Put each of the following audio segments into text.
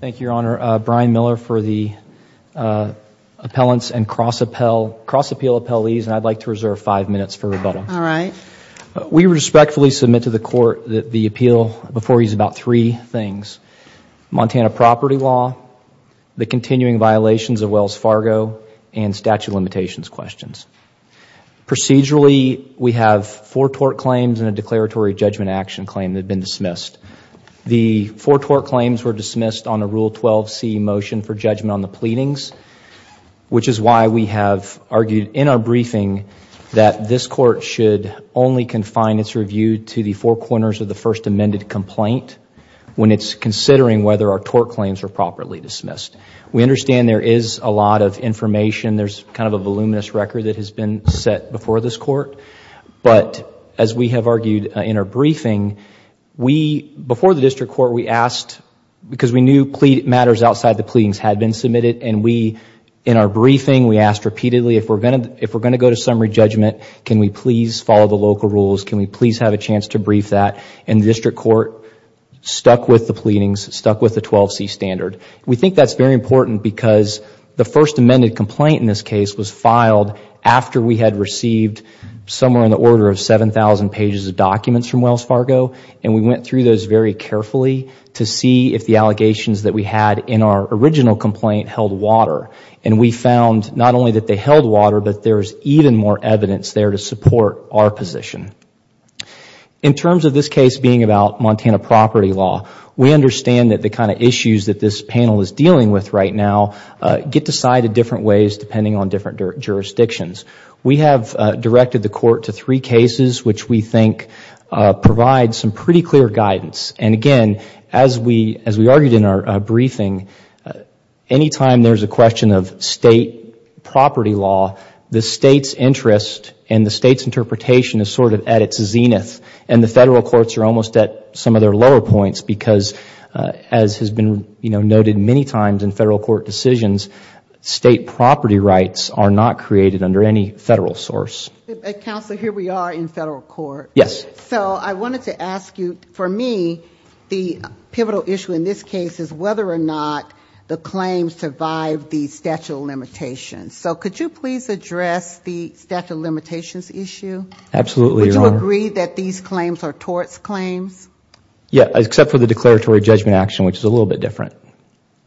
Thank you, Your Honor. Brian Miller for the appellants and cross-appeal appellees, and I'd like to reserve five minutes for rebuttal. All right. We respectfully submit to the Court that the appeal before you is about three things. Montana property law, the continuing violations of Wells Fargo, and statute of limitations questions. Procedurally, we have four tort claims and a declaratory judgment action claim that have been dismissed. The four tort claims were dismissed on a Rule 12c motion for judgment on the pleadings, which is why we have argued in our briefing that this Court should only confine its review to the four corners of the first amended complaint when it's considering whether our tort claims are properly dismissed. We understand there is a lot of information. There's kind of a voluminous record that has been set before this Court, but as we have said in our briefing, before the District Court, we asked, because we knew matters outside the pleadings had been submitted, and we, in our briefing, we asked repeatedly, if we're going to go to summary judgment, can we please follow the local rules? Can we please have a chance to brief that? And the District Court stuck with the pleadings, stuck with the 12c standard. We think that's very important because the first amended complaint in this case was filed after we had received somewhere in the order of 7,000 pages of documents from Wells Fargo, and we went through those very carefully to see if the allegations that we had in our original complaint held water. We found not only that they held water, but there's even more evidence there to support our position. In terms of this case being about Montana property law, we understand that the kind of issues that this panel is dealing with right now get decided different ways depending on different jurisdictions. We have directed the Court to three cases which we think provide some pretty clear guidance, and again, as we argued in our briefing, any time there's a question of State property law, the State's interest and the State's interpretation is sort of at its zenith, and the Federal Courts are almost at some of their lower points because, as has been noted many times in Federal Court decisions, State property rights are not created under any Federal source. Counsel, here we are in Federal Court. Yes. So I wanted to ask you, for me, the pivotal issue in this case is whether or not the claims survive the statute of limitations. So could you please address the statute of limitations issue? Absolutely, Your Honor. Would you agree that these claims are torts claims? Yes, except for the declaratory judgment action, which is a little bit different.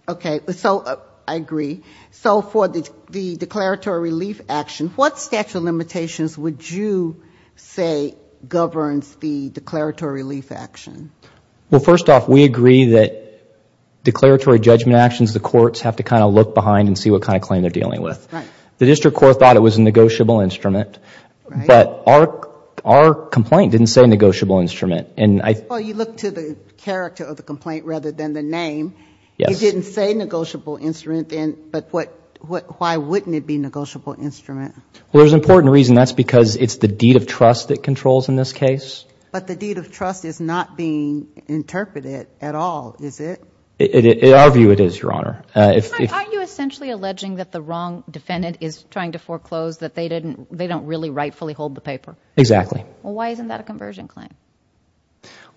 Okay. So I agree. So for the declaratory relief action, what statute of limitations would you say governs the declaratory relief action? Well, first off, we agree that declaratory judgment actions, the Courts have to kind of look behind and see what kind of claim they're dealing with. The District Court thought it was a negotiable instrument, but our complaint didn't say negotiable instrument. Well, you look to the character of the complaint rather than the name. It didn't say negotiable instrument, but why wouldn't it be negotiable instrument? Well, there's an important reason. That's because it's the deed of trust that controls in this case. But the deed of trust is not being interpreted at all, is it? In our view, it is, Your Honor. Are you essentially alleging that the wrong defendant is trying to foreclose that they don't really rightfully hold the paper? Exactly. Well, why isn't that a conversion claim?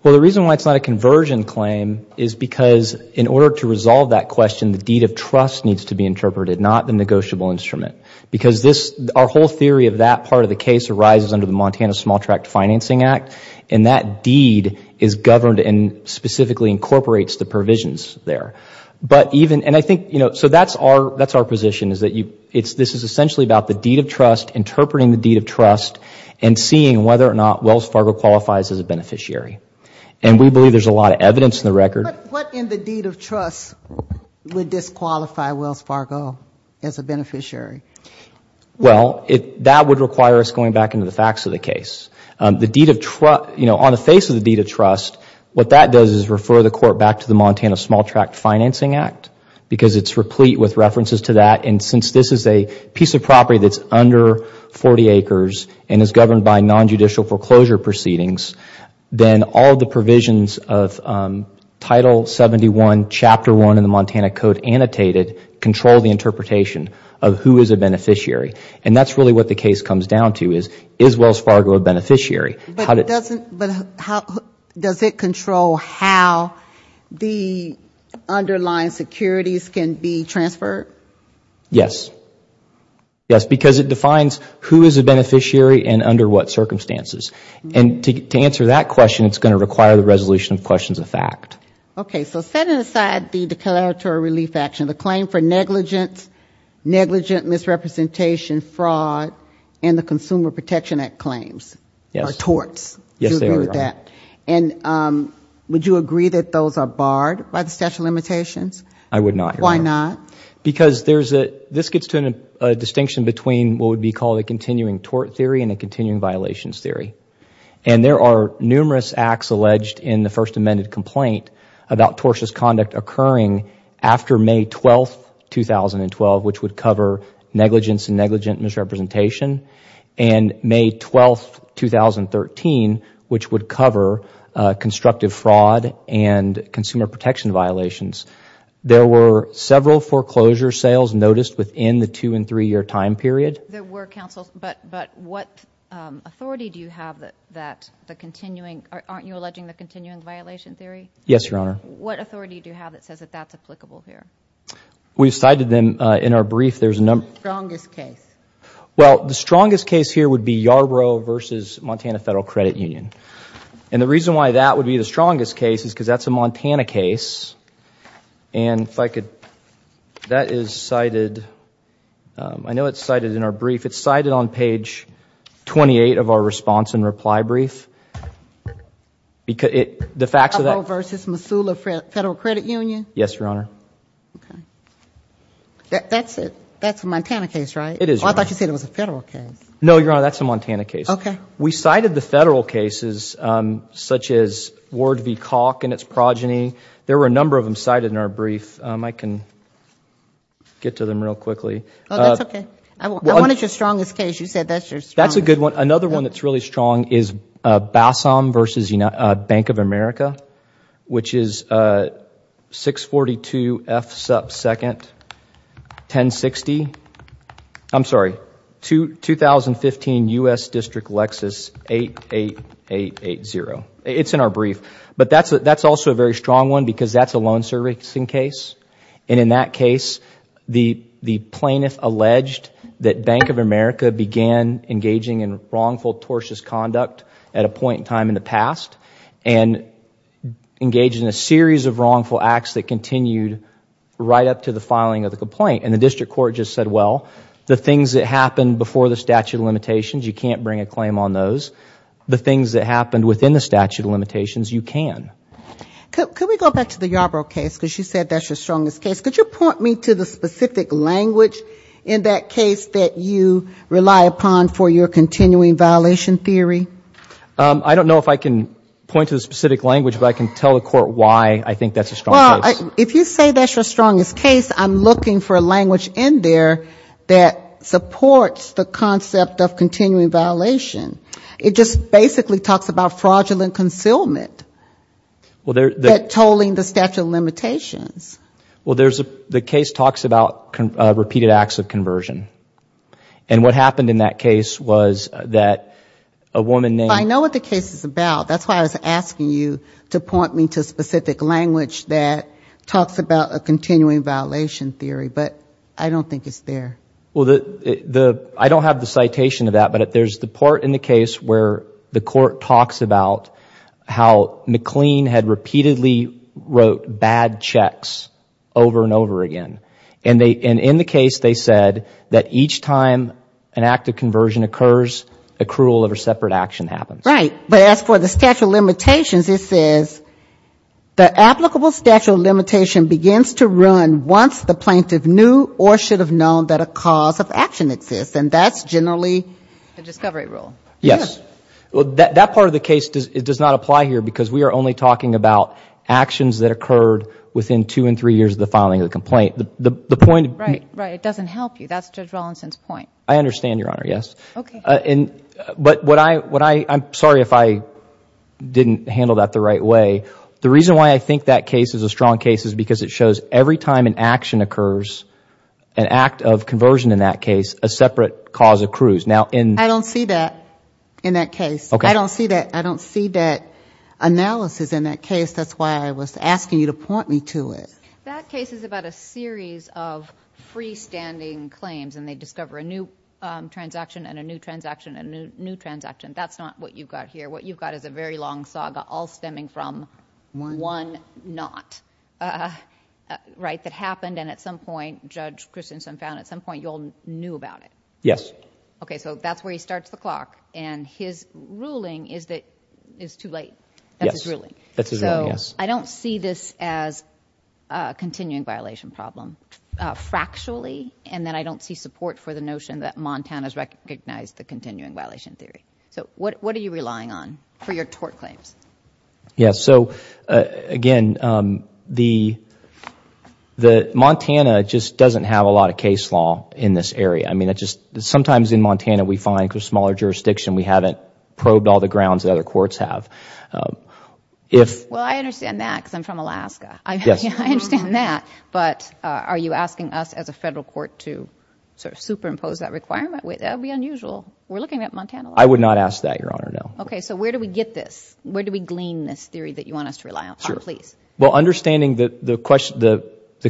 Well, the reason why it's not a conversion claim is because in order to resolve that question, the deed of trust needs to be interpreted, not the negotiable instrument. Because our whole theory of that part of the case arises under the Montana Small Tract Financing Act, and that deed is governed and specifically incorporates the provisions there. So that's our position, is that this is essentially about the deed of trust, interpreting the matter or not Wells Fargo qualifies as a beneficiary. And we believe there's a lot of evidence in the record. What in the deed of trust would disqualify Wells Fargo as a beneficiary? Well, that would require us going back into the facts of the case. On the face of the deed of trust, what that does is refer the court back to the Montana Small Tract Financing Act because it's replete with references to that. And since this is a piece of property that's under 40 acres and is governed by non-judicial foreclosure proceedings, then all the provisions of Title 71, Chapter 1 in the Montana Code annotated control the interpretation of who is a beneficiary. And that's really what the case comes down to, is Wells Fargo a beneficiary? But does it control how the underlying securities can be transferred? Yes. Yes, because it defines who is a beneficiary and under what circumstances. And to answer that question, it's going to require the resolution of questions of fact. Okay. So setting aside the declaratory relief action, the claim for negligence, negligent misrepresentation, fraud, and the Consumer Protection Act claims, or torts, would you agree with that? And would you agree that those are barred by the statute of limitations? I would not. Why not? Because this gets to a distinction between what would be called a continuing tort theory and a continuing violations theory. And there are numerous acts alleged in the First Amendment complaint about tortious conduct occurring after May 12th, 2012, which would cover negligence and negligent misrepresentation. And May 12th, 2013, which would cover constructive fraud and consumer protection violations. There were several foreclosure sales noticed within the two and three year time period. There were, counsel. But what authority do you have that the continuing, aren't you alleging the continuing violation theory? Yes, Your Honor. What authority do you have that says that that's applicable here? We've cited them in our brief. What's the strongest case? Well, the strongest case here would be Yarbrough v. Montana Federal Credit Union. And the reason why that would be the strongest case is because that's a Montana case. And if I could, that is cited, I know it's cited in our brief. It's cited on page 28 of our response and reply brief. Yarbrough v. Missoula Federal Credit Union? Yes, Your Honor. Okay. That's a Montana case, right? It is, Your Honor. I thought you said it was a federal case. No, Your Honor. That's a Montana case. Okay. We cited the federal cases such as Ward v. Calk and its progeny. There were a number of them cited in our brief. I can get to them real quickly. Oh, that's okay. What is your strongest case? You said that's your strongest case. That's a good one. Another one that's really strong is Bassam v. Bank of America, which is 642 F. Supp. 2nd, 1060. I'm sorry, 2015 U.S. District Lexus, 88880. It's in our brief. But that's also a very strong one because that's a loan servicing case. In that case, the plaintiff alleged that Bank of America began engaging in wrongful, tortuous conduct at a point in time in the past and engaged in a series of wrongful acts that continued right up to the filing of the complaint. The district court just said, well, the things that happened before the statute of limitations, you can't bring a claim on those. The things that happened within the statute of limitations, you can. Could we go back to the Yarbrough case because you said that's your strongest case. Could you point me to the specific language in that case that you rely upon for your continuing violation theory? I don't know if I can point to the specific language, but I can tell the court why I think that's a strong case. Well, if you say that's your strongest case, I'm looking for a language in there that supports the concept of continuing violation. It just basically talks about fraudulent concealment, tolling the statute of limitations. Well, the case talks about repeated acts of conversion. And what happened in that case was that a woman named – I know what the case is about. That's why I was asking you to point me to a specific language that talks about a continuing violation theory. But I don't think it's there. Well, I don't have the citation of that. But there's the part in the case where the court talks about how McLean had repeatedly wrote bad checks over and over again. And in the case they said that each time an act of conversion occurs, accrual of a separate action happens. Right. But as for the statute of limitations, it says, the applicable statute of limitation begins to run once the plaintiff knew or should have known that a cause of action exists. And that's generally – The discovery rule. Yes. That part of the case does not apply here because we are only talking about actions that occurred within two and three years of the filing of the complaint. The point – Right, right. It doesn't help you. That's Judge Rollinson's point. I understand, Your Honor, yes. Okay. But what I – I'm sorry if I didn't handle that the right way. The reason why I think that case is a strong case is because it shows every time an action occurs, an act of conversion in that case, a separate cause accrues. Now in – I don't see that in that case. Okay. I don't see that analysis in that case. That's why I was asking you to point me to it. That case is about a series of freestanding claims and they discover a new transaction and a new transaction and a new transaction. That's not what you've got here. What you've got is a very long saga all stemming from one not, right, that happened and at some point Judge Christensen found at some point you all knew about it. Yes. Okay, so that's where he starts the clock, and his ruling is that it's too late. Yes. That's his ruling. That's his ruling, yes. I don't see this as a continuing violation problem. Fractually, and then I don't see support for the notion that Montana has recognized the continuing violation theory. So what are you relying on for your tort claims? Yes. So, again, the – Montana just doesn't have a lot of case law in this area. I mean it just – sometimes in Montana we find through smaller jurisdiction we haven't probed all the grounds that other courts have. Well, I understand that because I'm from Alaska. Yes. I understand that, but are you asking us as a federal court to sort of superimpose that requirement? That would be unusual. We're looking at Montana law. I would not ask that, Your Honor, no. Okay, so where do we get this? Where do we glean this theory that you want us to rely on? Sure. Please. Well, understanding the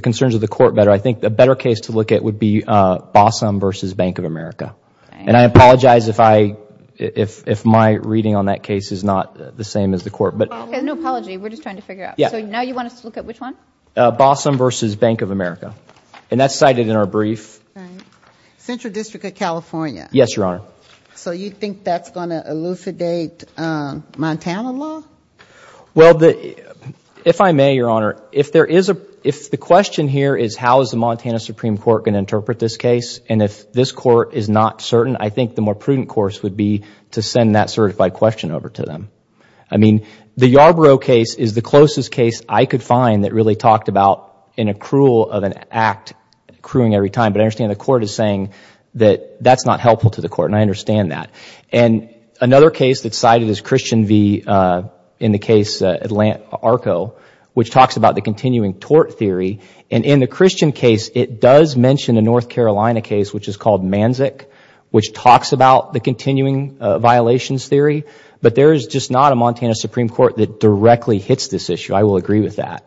concerns of the court better, I think a better case to look at would be Bossom v. Bank of America. And I apologize if I – if my reading on that case is not the same as the court. Okay, no apology. We're just trying to figure out. So now you want us to look at which one? Bossom v. Bank of America. And that's cited in our brief. Central District of California. Yes, Your Honor. So you think that's going to elucidate Montana law? Well, if I may, Your Honor, if there is a – if the question here is how is the Montana Supreme Court going to interpret this case and if this court is not certain, I think the more prudent course would be to send that certified question over to them. I mean, the Yarborough case is the closest case I could find that really talked about an accrual of an act, accruing every time. But I understand the court is saying that that's not helpful to the court, and I understand that. And another case that's cited is Christian v. – in the case, Arco, which talks about the continuing tort theory. And in the Christian case, it does mention a North Carolina case, which is called Manzik, which talks about the continuing violations theory. But there is just not a Montana Supreme Court that directly hits this issue. I will agree with that.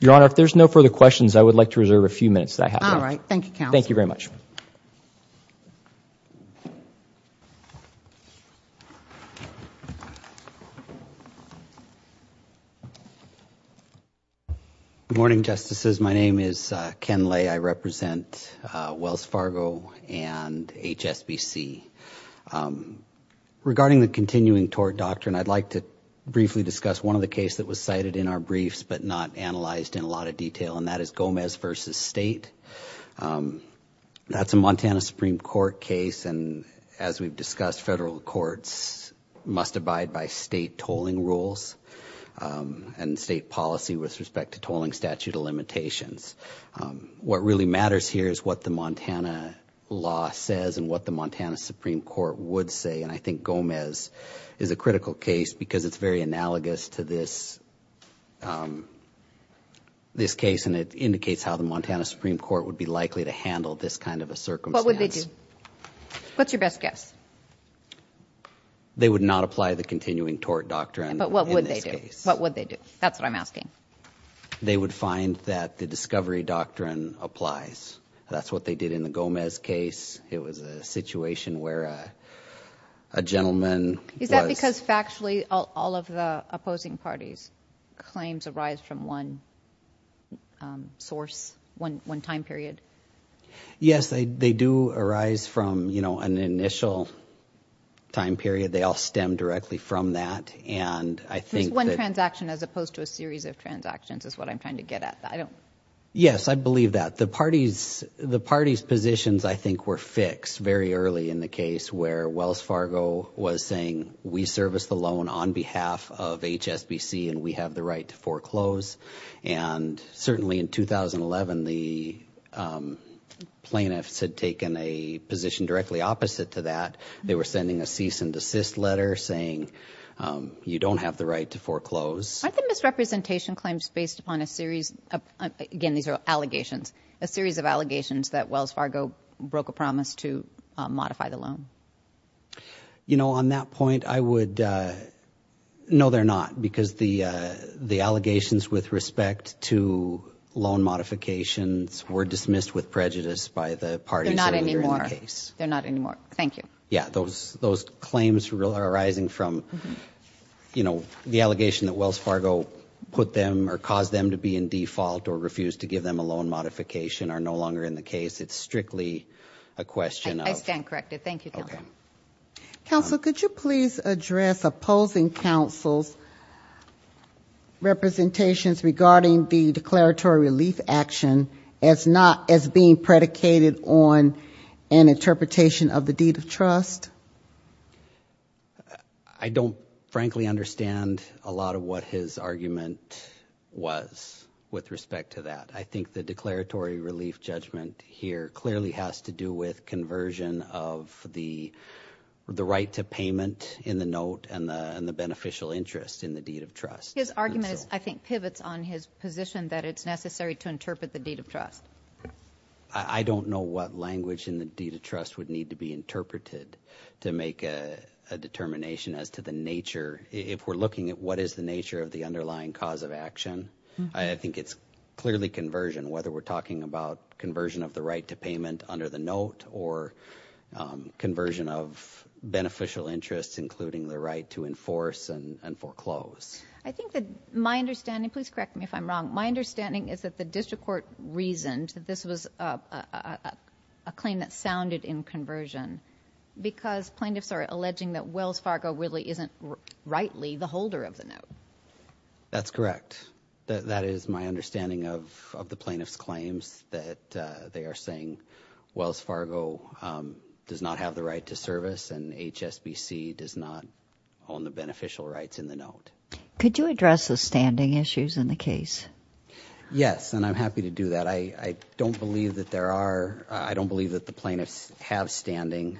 Your Honor, if there's no further questions, I would like to reserve a few minutes. All right. Thank you, counsel. Thank you very much. Good morning, Justices. My name is Ken Lay. I represent Wells Fargo and HSBC. Regarding the continuing tort doctrine, I'd like to briefly discuss one of the cases that was cited in our briefs but not analyzed in a lot of detail, and that is Gomez v. State. That's a Montana Supreme Court case, and as we've discussed, federal courts must abide by state tolling rules and state policy with respect to tolling statute of limitations. What really matters here is what the Montana law says and what the Montana Supreme Court would say, and I think Gomez is a critical case because it's very analogous to this case, and it indicates how the Montana Supreme Court would be likely to handle this kind of a circumstance. What would they do? What's your best guess? They would not apply the continuing tort doctrine. But what would they do? What would they do? That's what I'm asking. They would find that the discovery doctrine applies. That's what they did in the Gomez case. It was a situation where a gentleman was. Is that because factually all of the opposing parties' claims arise from one source, one time period? Yes, they do arise from an initial time period. They all stem directly from that, and I think that- It's one transaction as opposed to a series of transactions is what I'm trying to get at. I don't- Yes, I believe that. The parties' positions, I think, were fixed very early in the case where Wells Fargo was saying, we service the loan on behalf of HSBC, and we have the right to foreclose, and certainly in 2011, the plaintiffs had taken a position directly opposite to that. They were sending a cease and desist letter saying, you don't have the right to foreclose. Aren't the misrepresentation claims based upon a series of- again, these are allegations- a series of allegations that Wells Fargo broke a promise to modify the loan? You know, on that point, I would- no, they're not, because the allegations with respect to loan modifications were dismissed with prejudice by the parties earlier in the case. They're not anymore. They're not anymore. Thank you. Yeah, those claims arising from, you know, the allegation that Wells Fargo put them or caused them to be in default or refused to give them a loan modification are no longer in the case. It's strictly a question of- I stand corrected. Thank you. Okay. Counsel, could you please address opposing counsel's representations regarding the declaratory relief action as being predicated on an interpretation of the deed of trust? I don't, frankly, understand a lot of what his argument was with respect to that. I think the declaratory relief judgment here clearly has to do with conversion of the right to payment in the note and the beneficial interest in the deed of trust. His argument, I think, pivots on his position that it's necessary to interpret the deed of trust. I don't know what language in the deed of trust would need to be interpreted to make a determination as to the nature. If we're looking at what is the nature of the underlying cause of action, I think it's clearly conversion, whether we're talking about conversion of the right to payment under the note or conversion of beneficial interests, including the right to enforce and foreclose. I think that my understanding, please correct me if I'm wrong, my understanding is that the district court reasoned that this was a claim that sounded in conversion because plaintiffs are alleging that Wells Fargo really isn't rightly the holder of the note. That's correct. That is my understanding of the plaintiff's claims, that they are saying Wells Fargo does not have the right to service and HSBC does not own the beneficial rights in the note. Could you address the standing issues in the case? Yes, and I'm happy to do that. I don't believe that there are, I don't believe that the plaintiffs have standing.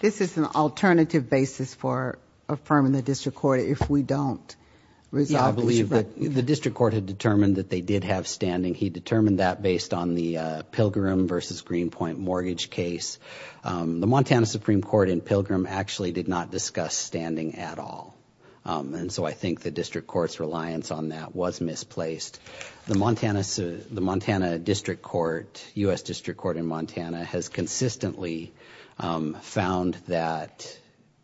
This is an alternative basis for affirming the district court if we don't resolve this. Yeah, I believe that the district court had determined that they did have standing. He determined that based on the Pilgrim v. Greenpoint mortgage case. The Montana Supreme Court in Pilgrim actually did not discuss standing at all, and so I think the district court's reliance on that was misplaced. The Montana District Court, U.S. District Court in Montana, has consistently found that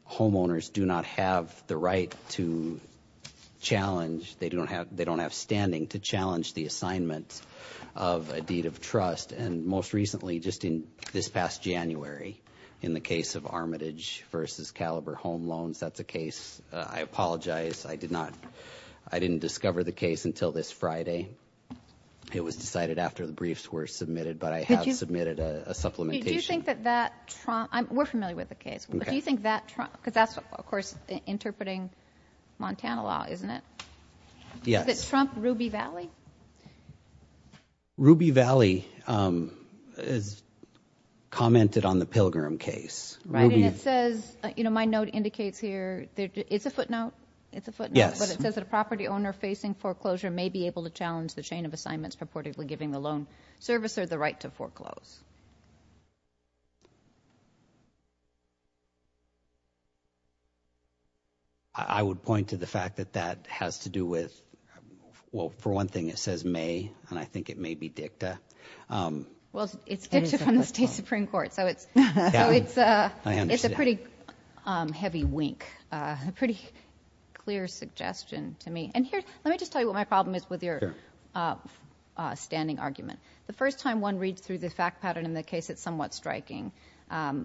homeowners do not have the right to challenge, they don't have standing to challenge the assignment of a deed of trust. And most recently, just in this past January, in the case of Armitage v. Caliber Home Loans, that's a case. I apologize, I did not, I didn't discover the case until this Friday. It was decided after the briefs were submitted, but I have submitted a supplementation. Do you think that that, we're familiar with the case. Do you think that, because that's of course interpreting Montana law, isn't it? Yes. Is it Trump-Ruby Valley? Ruby Valley commented on the Pilgrim case. Right, and it says, you know, my note indicates here, it's a footnote, it's a footnote, but it says that a property owner facing foreclosure may be able to challenge the chain of assignments purportedly giving the loan servicer the right to foreclose. I would point to the fact that that has to do with, well, for one thing it says may, and I think it may be dicta. Well, it's dicta from the State Supreme Court, so it's a pretty heavy wink, a pretty clear suggestion to me. And here, let me just tell you what my problem is with your standing argument. The first time one reads through the fact pattern in the case, it's somewhat striking,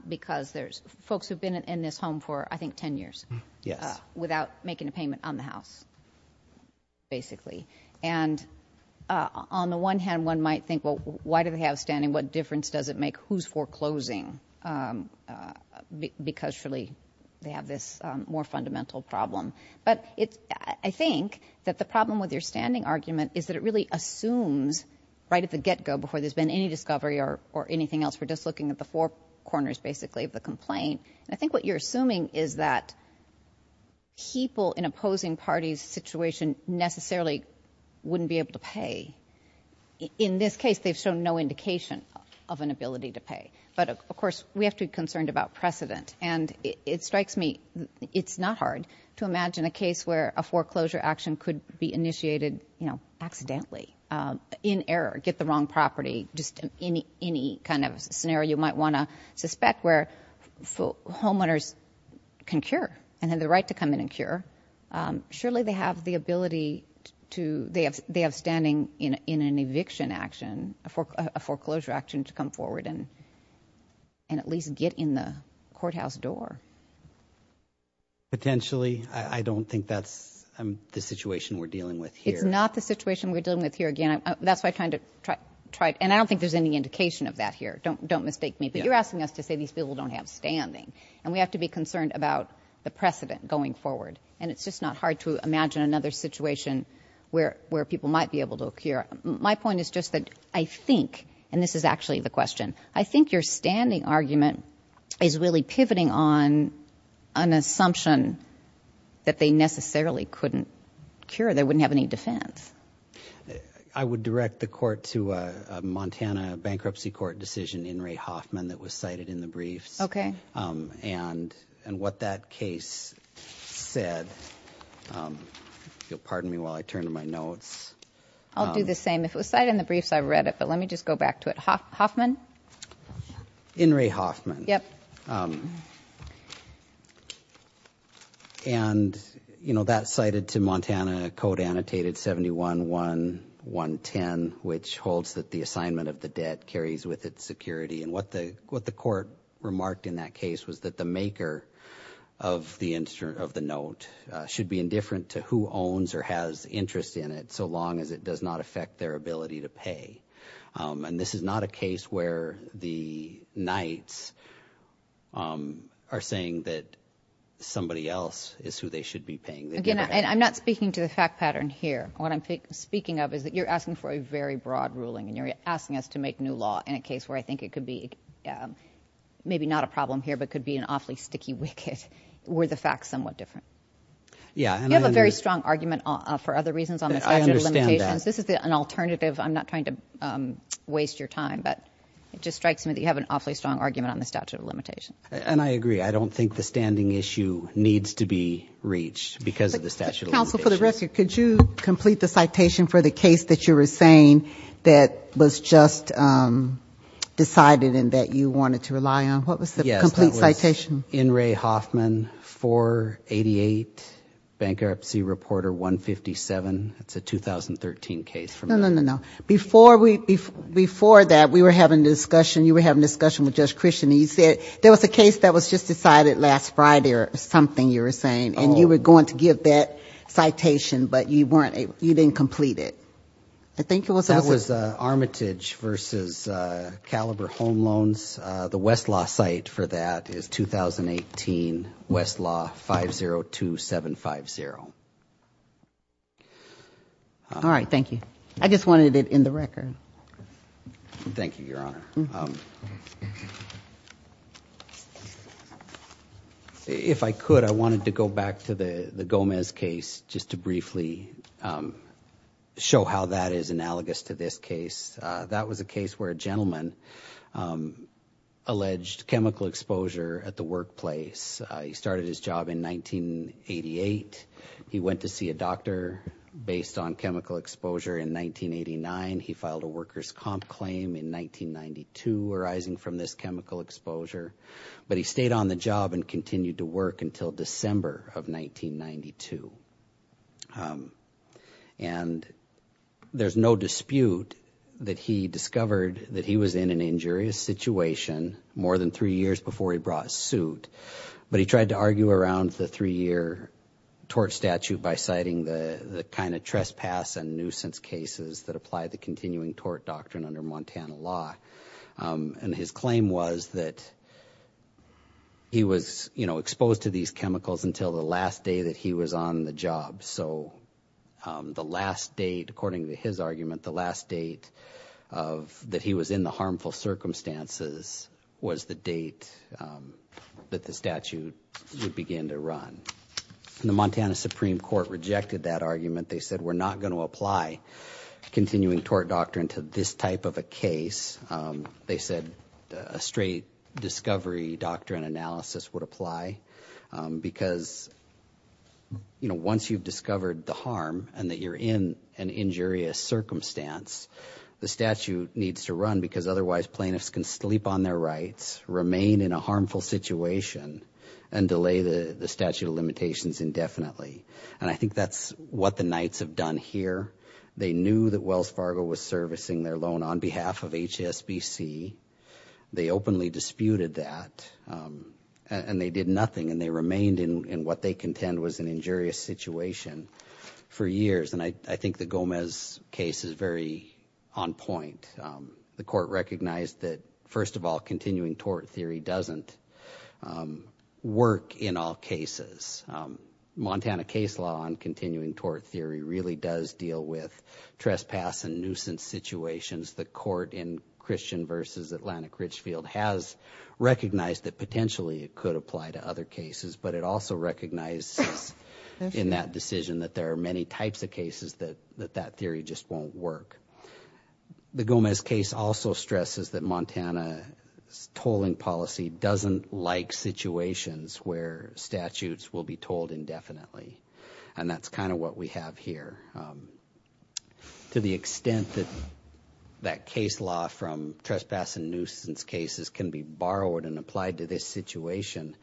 because there's folks who've been in this home for, I think, ten years. Yes. Without making a payment on the house, basically. And on the one hand, one might think, well, why do they have standing? What difference does it make who's foreclosing? Because, surely, they have this more fundamental problem. But I think that the problem with your standing argument is that it really assumes, right at the get-go, before there's been any discovery or anything else, we're just looking at the four corners, basically, of the complaint. And I think what you're assuming is that people in opposing parties' situation necessarily wouldn't be able to pay. In this case, they've shown no indication of an ability to pay. But, of course, we have to be concerned about precedent. And it strikes me it's not hard to imagine a case where a foreclosure action could be initiated, you know, accidentally, in error, get the wrong property, just any kind of scenario you might want to suspect where homeowners can cure and have the right to come in and cure. Surely, they have the ability to, they have standing in an eviction action, a foreclosure action to come forward and at least get in the courthouse door. Potentially. I don't think that's the situation we're dealing with here. It's not the situation we're dealing with here. Again, that's why I kind of tried, and I don't think there's any indication of that here. Don't mistake me. But you're asking us to say these people don't have standing. And we have to be concerned about the precedent going forward. And it's just not hard to imagine another situation where people might be able to cure. My point is just that I think, and this is actually the question, I think your standing argument is really pivoting on an assumption that they necessarily couldn't cure, they wouldn't have any defense. I would direct the court to a Montana bankruptcy court decision in Ray Hoffman that was cited in the briefs. Okay. And what that case said, if you'll pardon me while I turn to my notes. I'll do the same. If it was cited in the briefs, I read it, but let me just go back to it. Hoffman? In Ray Hoffman. Yep. And, you know, that's cited to Montana, code annotated 71110, which holds that the assignment of the debt carries with its security. And what the court remarked in that case was that the maker of the note should be indifferent to who owns or has interest in it so long as it does not affect their ability to pay. And this is not a case where the knights are saying that somebody else is who they should be paying. And I'm not speaking to the fact pattern here. What I'm speaking of is that you're asking for a very broad ruling and you're asking us to make new law in a case where I think it could be maybe not a problem here but could be an awfully sticky wicket were the facts somewhat different. Yeah. You have a very strong argument for other reasons on the statute of limitations. I understand that. This is an alternative. I'm not trying to waste your time, but it just strikes me that you have an awfully strong argument on the statute of limitations. And I agree. I don't think the standing issue needs to be reached because of the statute of limitations. Counsel, for the record, could you complete the citation for the case that you were saying that was just decided and that you wanted to rely on? What was the complete citation? Yes, that was in Ray Hoffman, 488, bankruptcy reporter 157. That's a 2013 case from that. No, no, no, no. Before that, we were having a discussion, you were having a discussion with Judge Christian, and you said there was a case that was just decided last Friday or something you were saying, and you were going to give that citation, but you didn't complete it. I think it was Armitage versus Caliber Home Loans. The Westlaw site for that is 2018 Westlaw 502750. All right. Thank you. I just wanted it in the record. Thank you, Your Honor. If I could, I wanted to go back to the Gomez case just to briefly show how that is analogous to this case. That was a case where a gentleman alleged chemical exposure at the workplace. He started his job in 1988. He went to see a doctor based on chemical exposure in 1989. He filed a worker's comp claim in 1992 arising from this chemical exposure, but he stayed on the job and continued to work until December of 1992. And there's no dispute that he discovered that he was in an injurious situation more than three years before he brought a suit, but he tried to argue around the three-year tort statute by citing the kind of trespass and nuisance cases that apply the continuing tort doctrine under Montana law. And his claim was that he was exposed to these chemicals until the last day that he was on the job. So the last date, according to his argument, the last date that he was in the harmful circumstances was the date that the statute would begin to run. They said we're not going to apply continuing tort doctrine to this type of a case. They said a straight discovery doctrine analysis would apply because, you know, once you've discovered the harm and that you're in an injurious circumstance, the statute needs to run because otherwise plaintiffs can sleep on their rights, remain in a harmful situation, and delay the statute of limitations indefinitely. And I think that's what the Knights have done here. They knew that Wells Fargo was servicing their loan on behalf of HSBC. They openly disputed that, and they did nothing, and they remained in what they contend was an injurious situation for years. And I think the Gomez case is very on point. The court recognized that, first of all, continuing tort theory doesn't work in all cases. Montana case law on continuing tort theory really does deal with trespass and nuisance situations. The court in Christian v. Atlantic Ridgefield has recognized that potentially it could apply to other cases, but it also recognizes in that decision that there are many types of cases that that theory just won't work. The Gomez case also stresses that Montana's tolling policy doesn't like situations where statutes will be tolled indefinitely, and that's kind of what we have here. To the extent that that case law from trespass and nuisance cases can be borrowed and applied to this situation,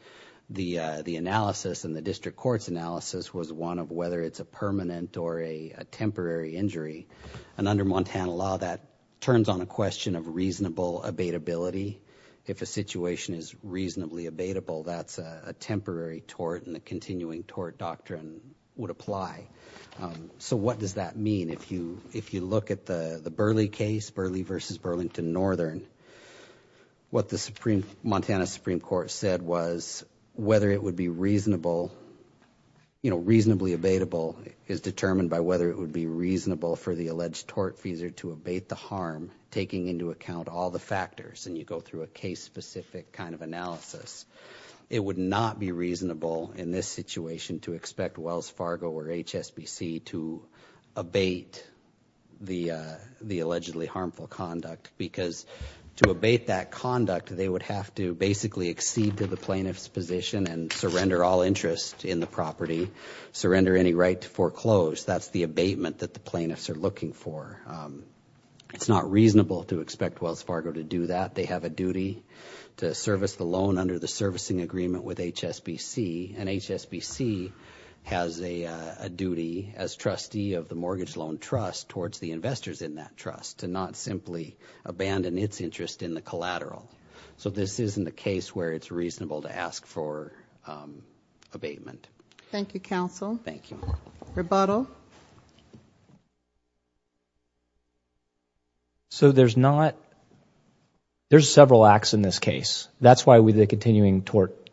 the analysis and the district court's analysis was one of whether it's a permanent or a temporary injury. And under Montana law, that turns on a question of reasonable abatability. If a situation is reasonably abatable, that's a temporary tort, and the continuing tort doctrine would apply. So what does that mean? If you look at the Burley case, Burley v. Burlington Northern, what the Montana Supreme Court said was whether it would be reasonably abatable is determined by whether it would be reasonable for the alleged tortfeasor to abate the harm, taking into account all the factors, and you go through a case-specific kind of analysis. It would not be reasonable in this situation to expect Wells Fargo or HSBC to abate the allegedly harmful conduct because to abate that conduct, they would have to basically accede to the plaintiff's position and surrender all interest in the property, surrender any right to foreclose. That's the abatement that the plaintiffs are looking for. It's not reasonable to expect Wells Fargo to do that. They have a duty to service the loan under the servicing agreement with HSBC, and HSBC has a duty as trustee of the mortgage loan trust towards the investors in that trust to not simply abandon its interest in the collateral. So this isn't a case where it's reasonable to ask for abatement. Thank you, counsel. Thank you. Rebuttal. So there's not – there's several acts in this case. That's why the continuing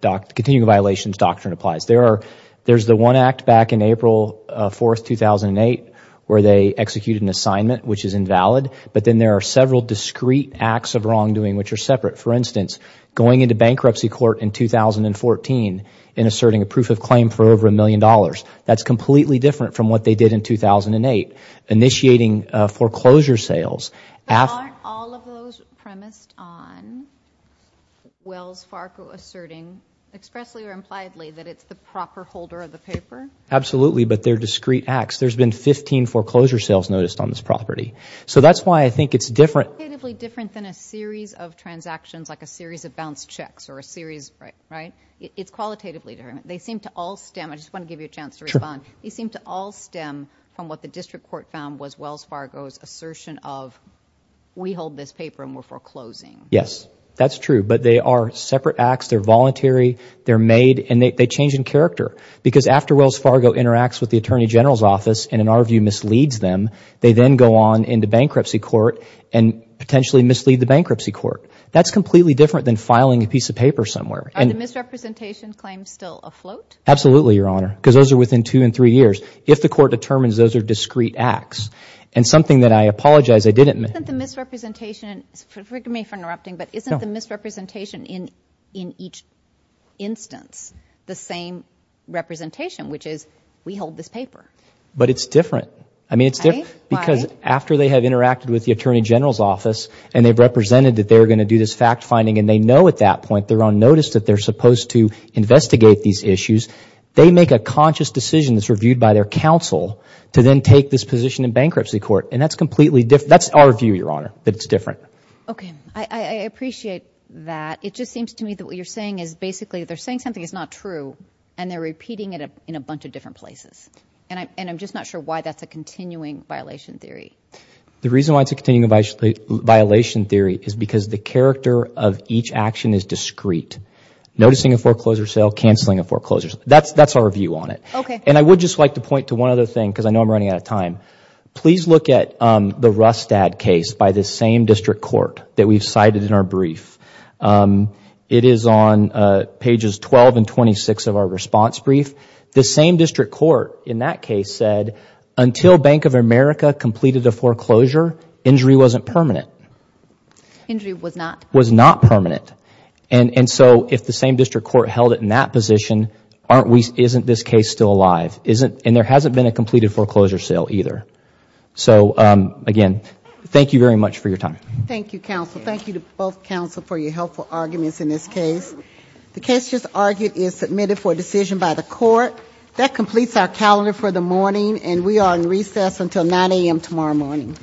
violations doctrine applies. There's the one act back in April 4th, 2008, where they executed an assignment which is invalid, but then there are several discrete acts of wrongdoing which are separate. For instance, going into bankruptcy court in 2014 and asserting a proof of claim for over $1 million. That's completely different from what they did in 2008, initiating foreclosure sales. Aren't all of those premised on Wells Fargo asserting expressly or impliedly that it's the proper holder of the paper? Absolutely, but they're discrete acts. There's been 15 foreclosure sales noticed on this property. So that's why I think it's different. Qualitatively different than a series of transactions like a series of bounced checks or a series – right? It's qualitatively different. They seem to all stem – I just want to give you a chance to respond. Sure. They seem to all stem from what the district court found was Wells Fargo's assertion of we hold this paper and we're foreclosing. Yes, that's true, but they are separate acts. They're voluntary. They're made, and they change in character because after Wells Fargo interacts with the Attorney General's office and, in our view, misleads them, they then go on into bankruptcy court and potentially mislead the bankruptcy court. That's completely different than filing a piece of paper somewhere. Are the misrepresentation claims still afloat? Absolutely, Your Honor, because those are within two and three years. If the court determines those are discrete acts, and something that I apologize I didn't – Isn't the misrepresentation – forgive me for interrupting, but isn't the misrepresentation in each instance the same representation, which is we hold this paper? But it's different. I mean, it's different because after they have interacted with the Attorney General's office and they've represented that they're going to do this fact-finding and they know at that point they're on notice that they're supposed to investigate these issues, they make a conscious decision that's reviewed by their counsel to then take this position in bankruptcy court. And that's completely – that's our view, Your Honor, that it's different. Okay. I appreciate that. It just seems to me that what you're saying is basically they're saying something that's not true, and they're repeating it in a bunch of different places. And I'm just not sure why that's a continuing violation theory. The reason why it's a continuing violation theory is because the character of each action is discrete. Noticing a foreclosure sale, canceling a foreclosure sale. That's our view on it. Okay. And I would just like to point to one other thing because I know I'm running out of time. Please look at the Rustad case by the same district court that we've cited in our brief. It is on pages 12 and 26 of our response brief. The same district court in that case said until Bank of America completed a foreclosure, injury wasn't permanent. Injury was not. Was not permanent. And so if the same district court held it in that position, isn't this case still alive? And there hasn't been a completed foreclosure sale either. So, again, thank you very much for your time. Thank you, counsel. Thank you to both counsel for your helpful arguments in this case. The case just argued is submitted for decision by the court. That completes our calendar for the morning, and we are in recess until 9 a.m. tomorrow morning.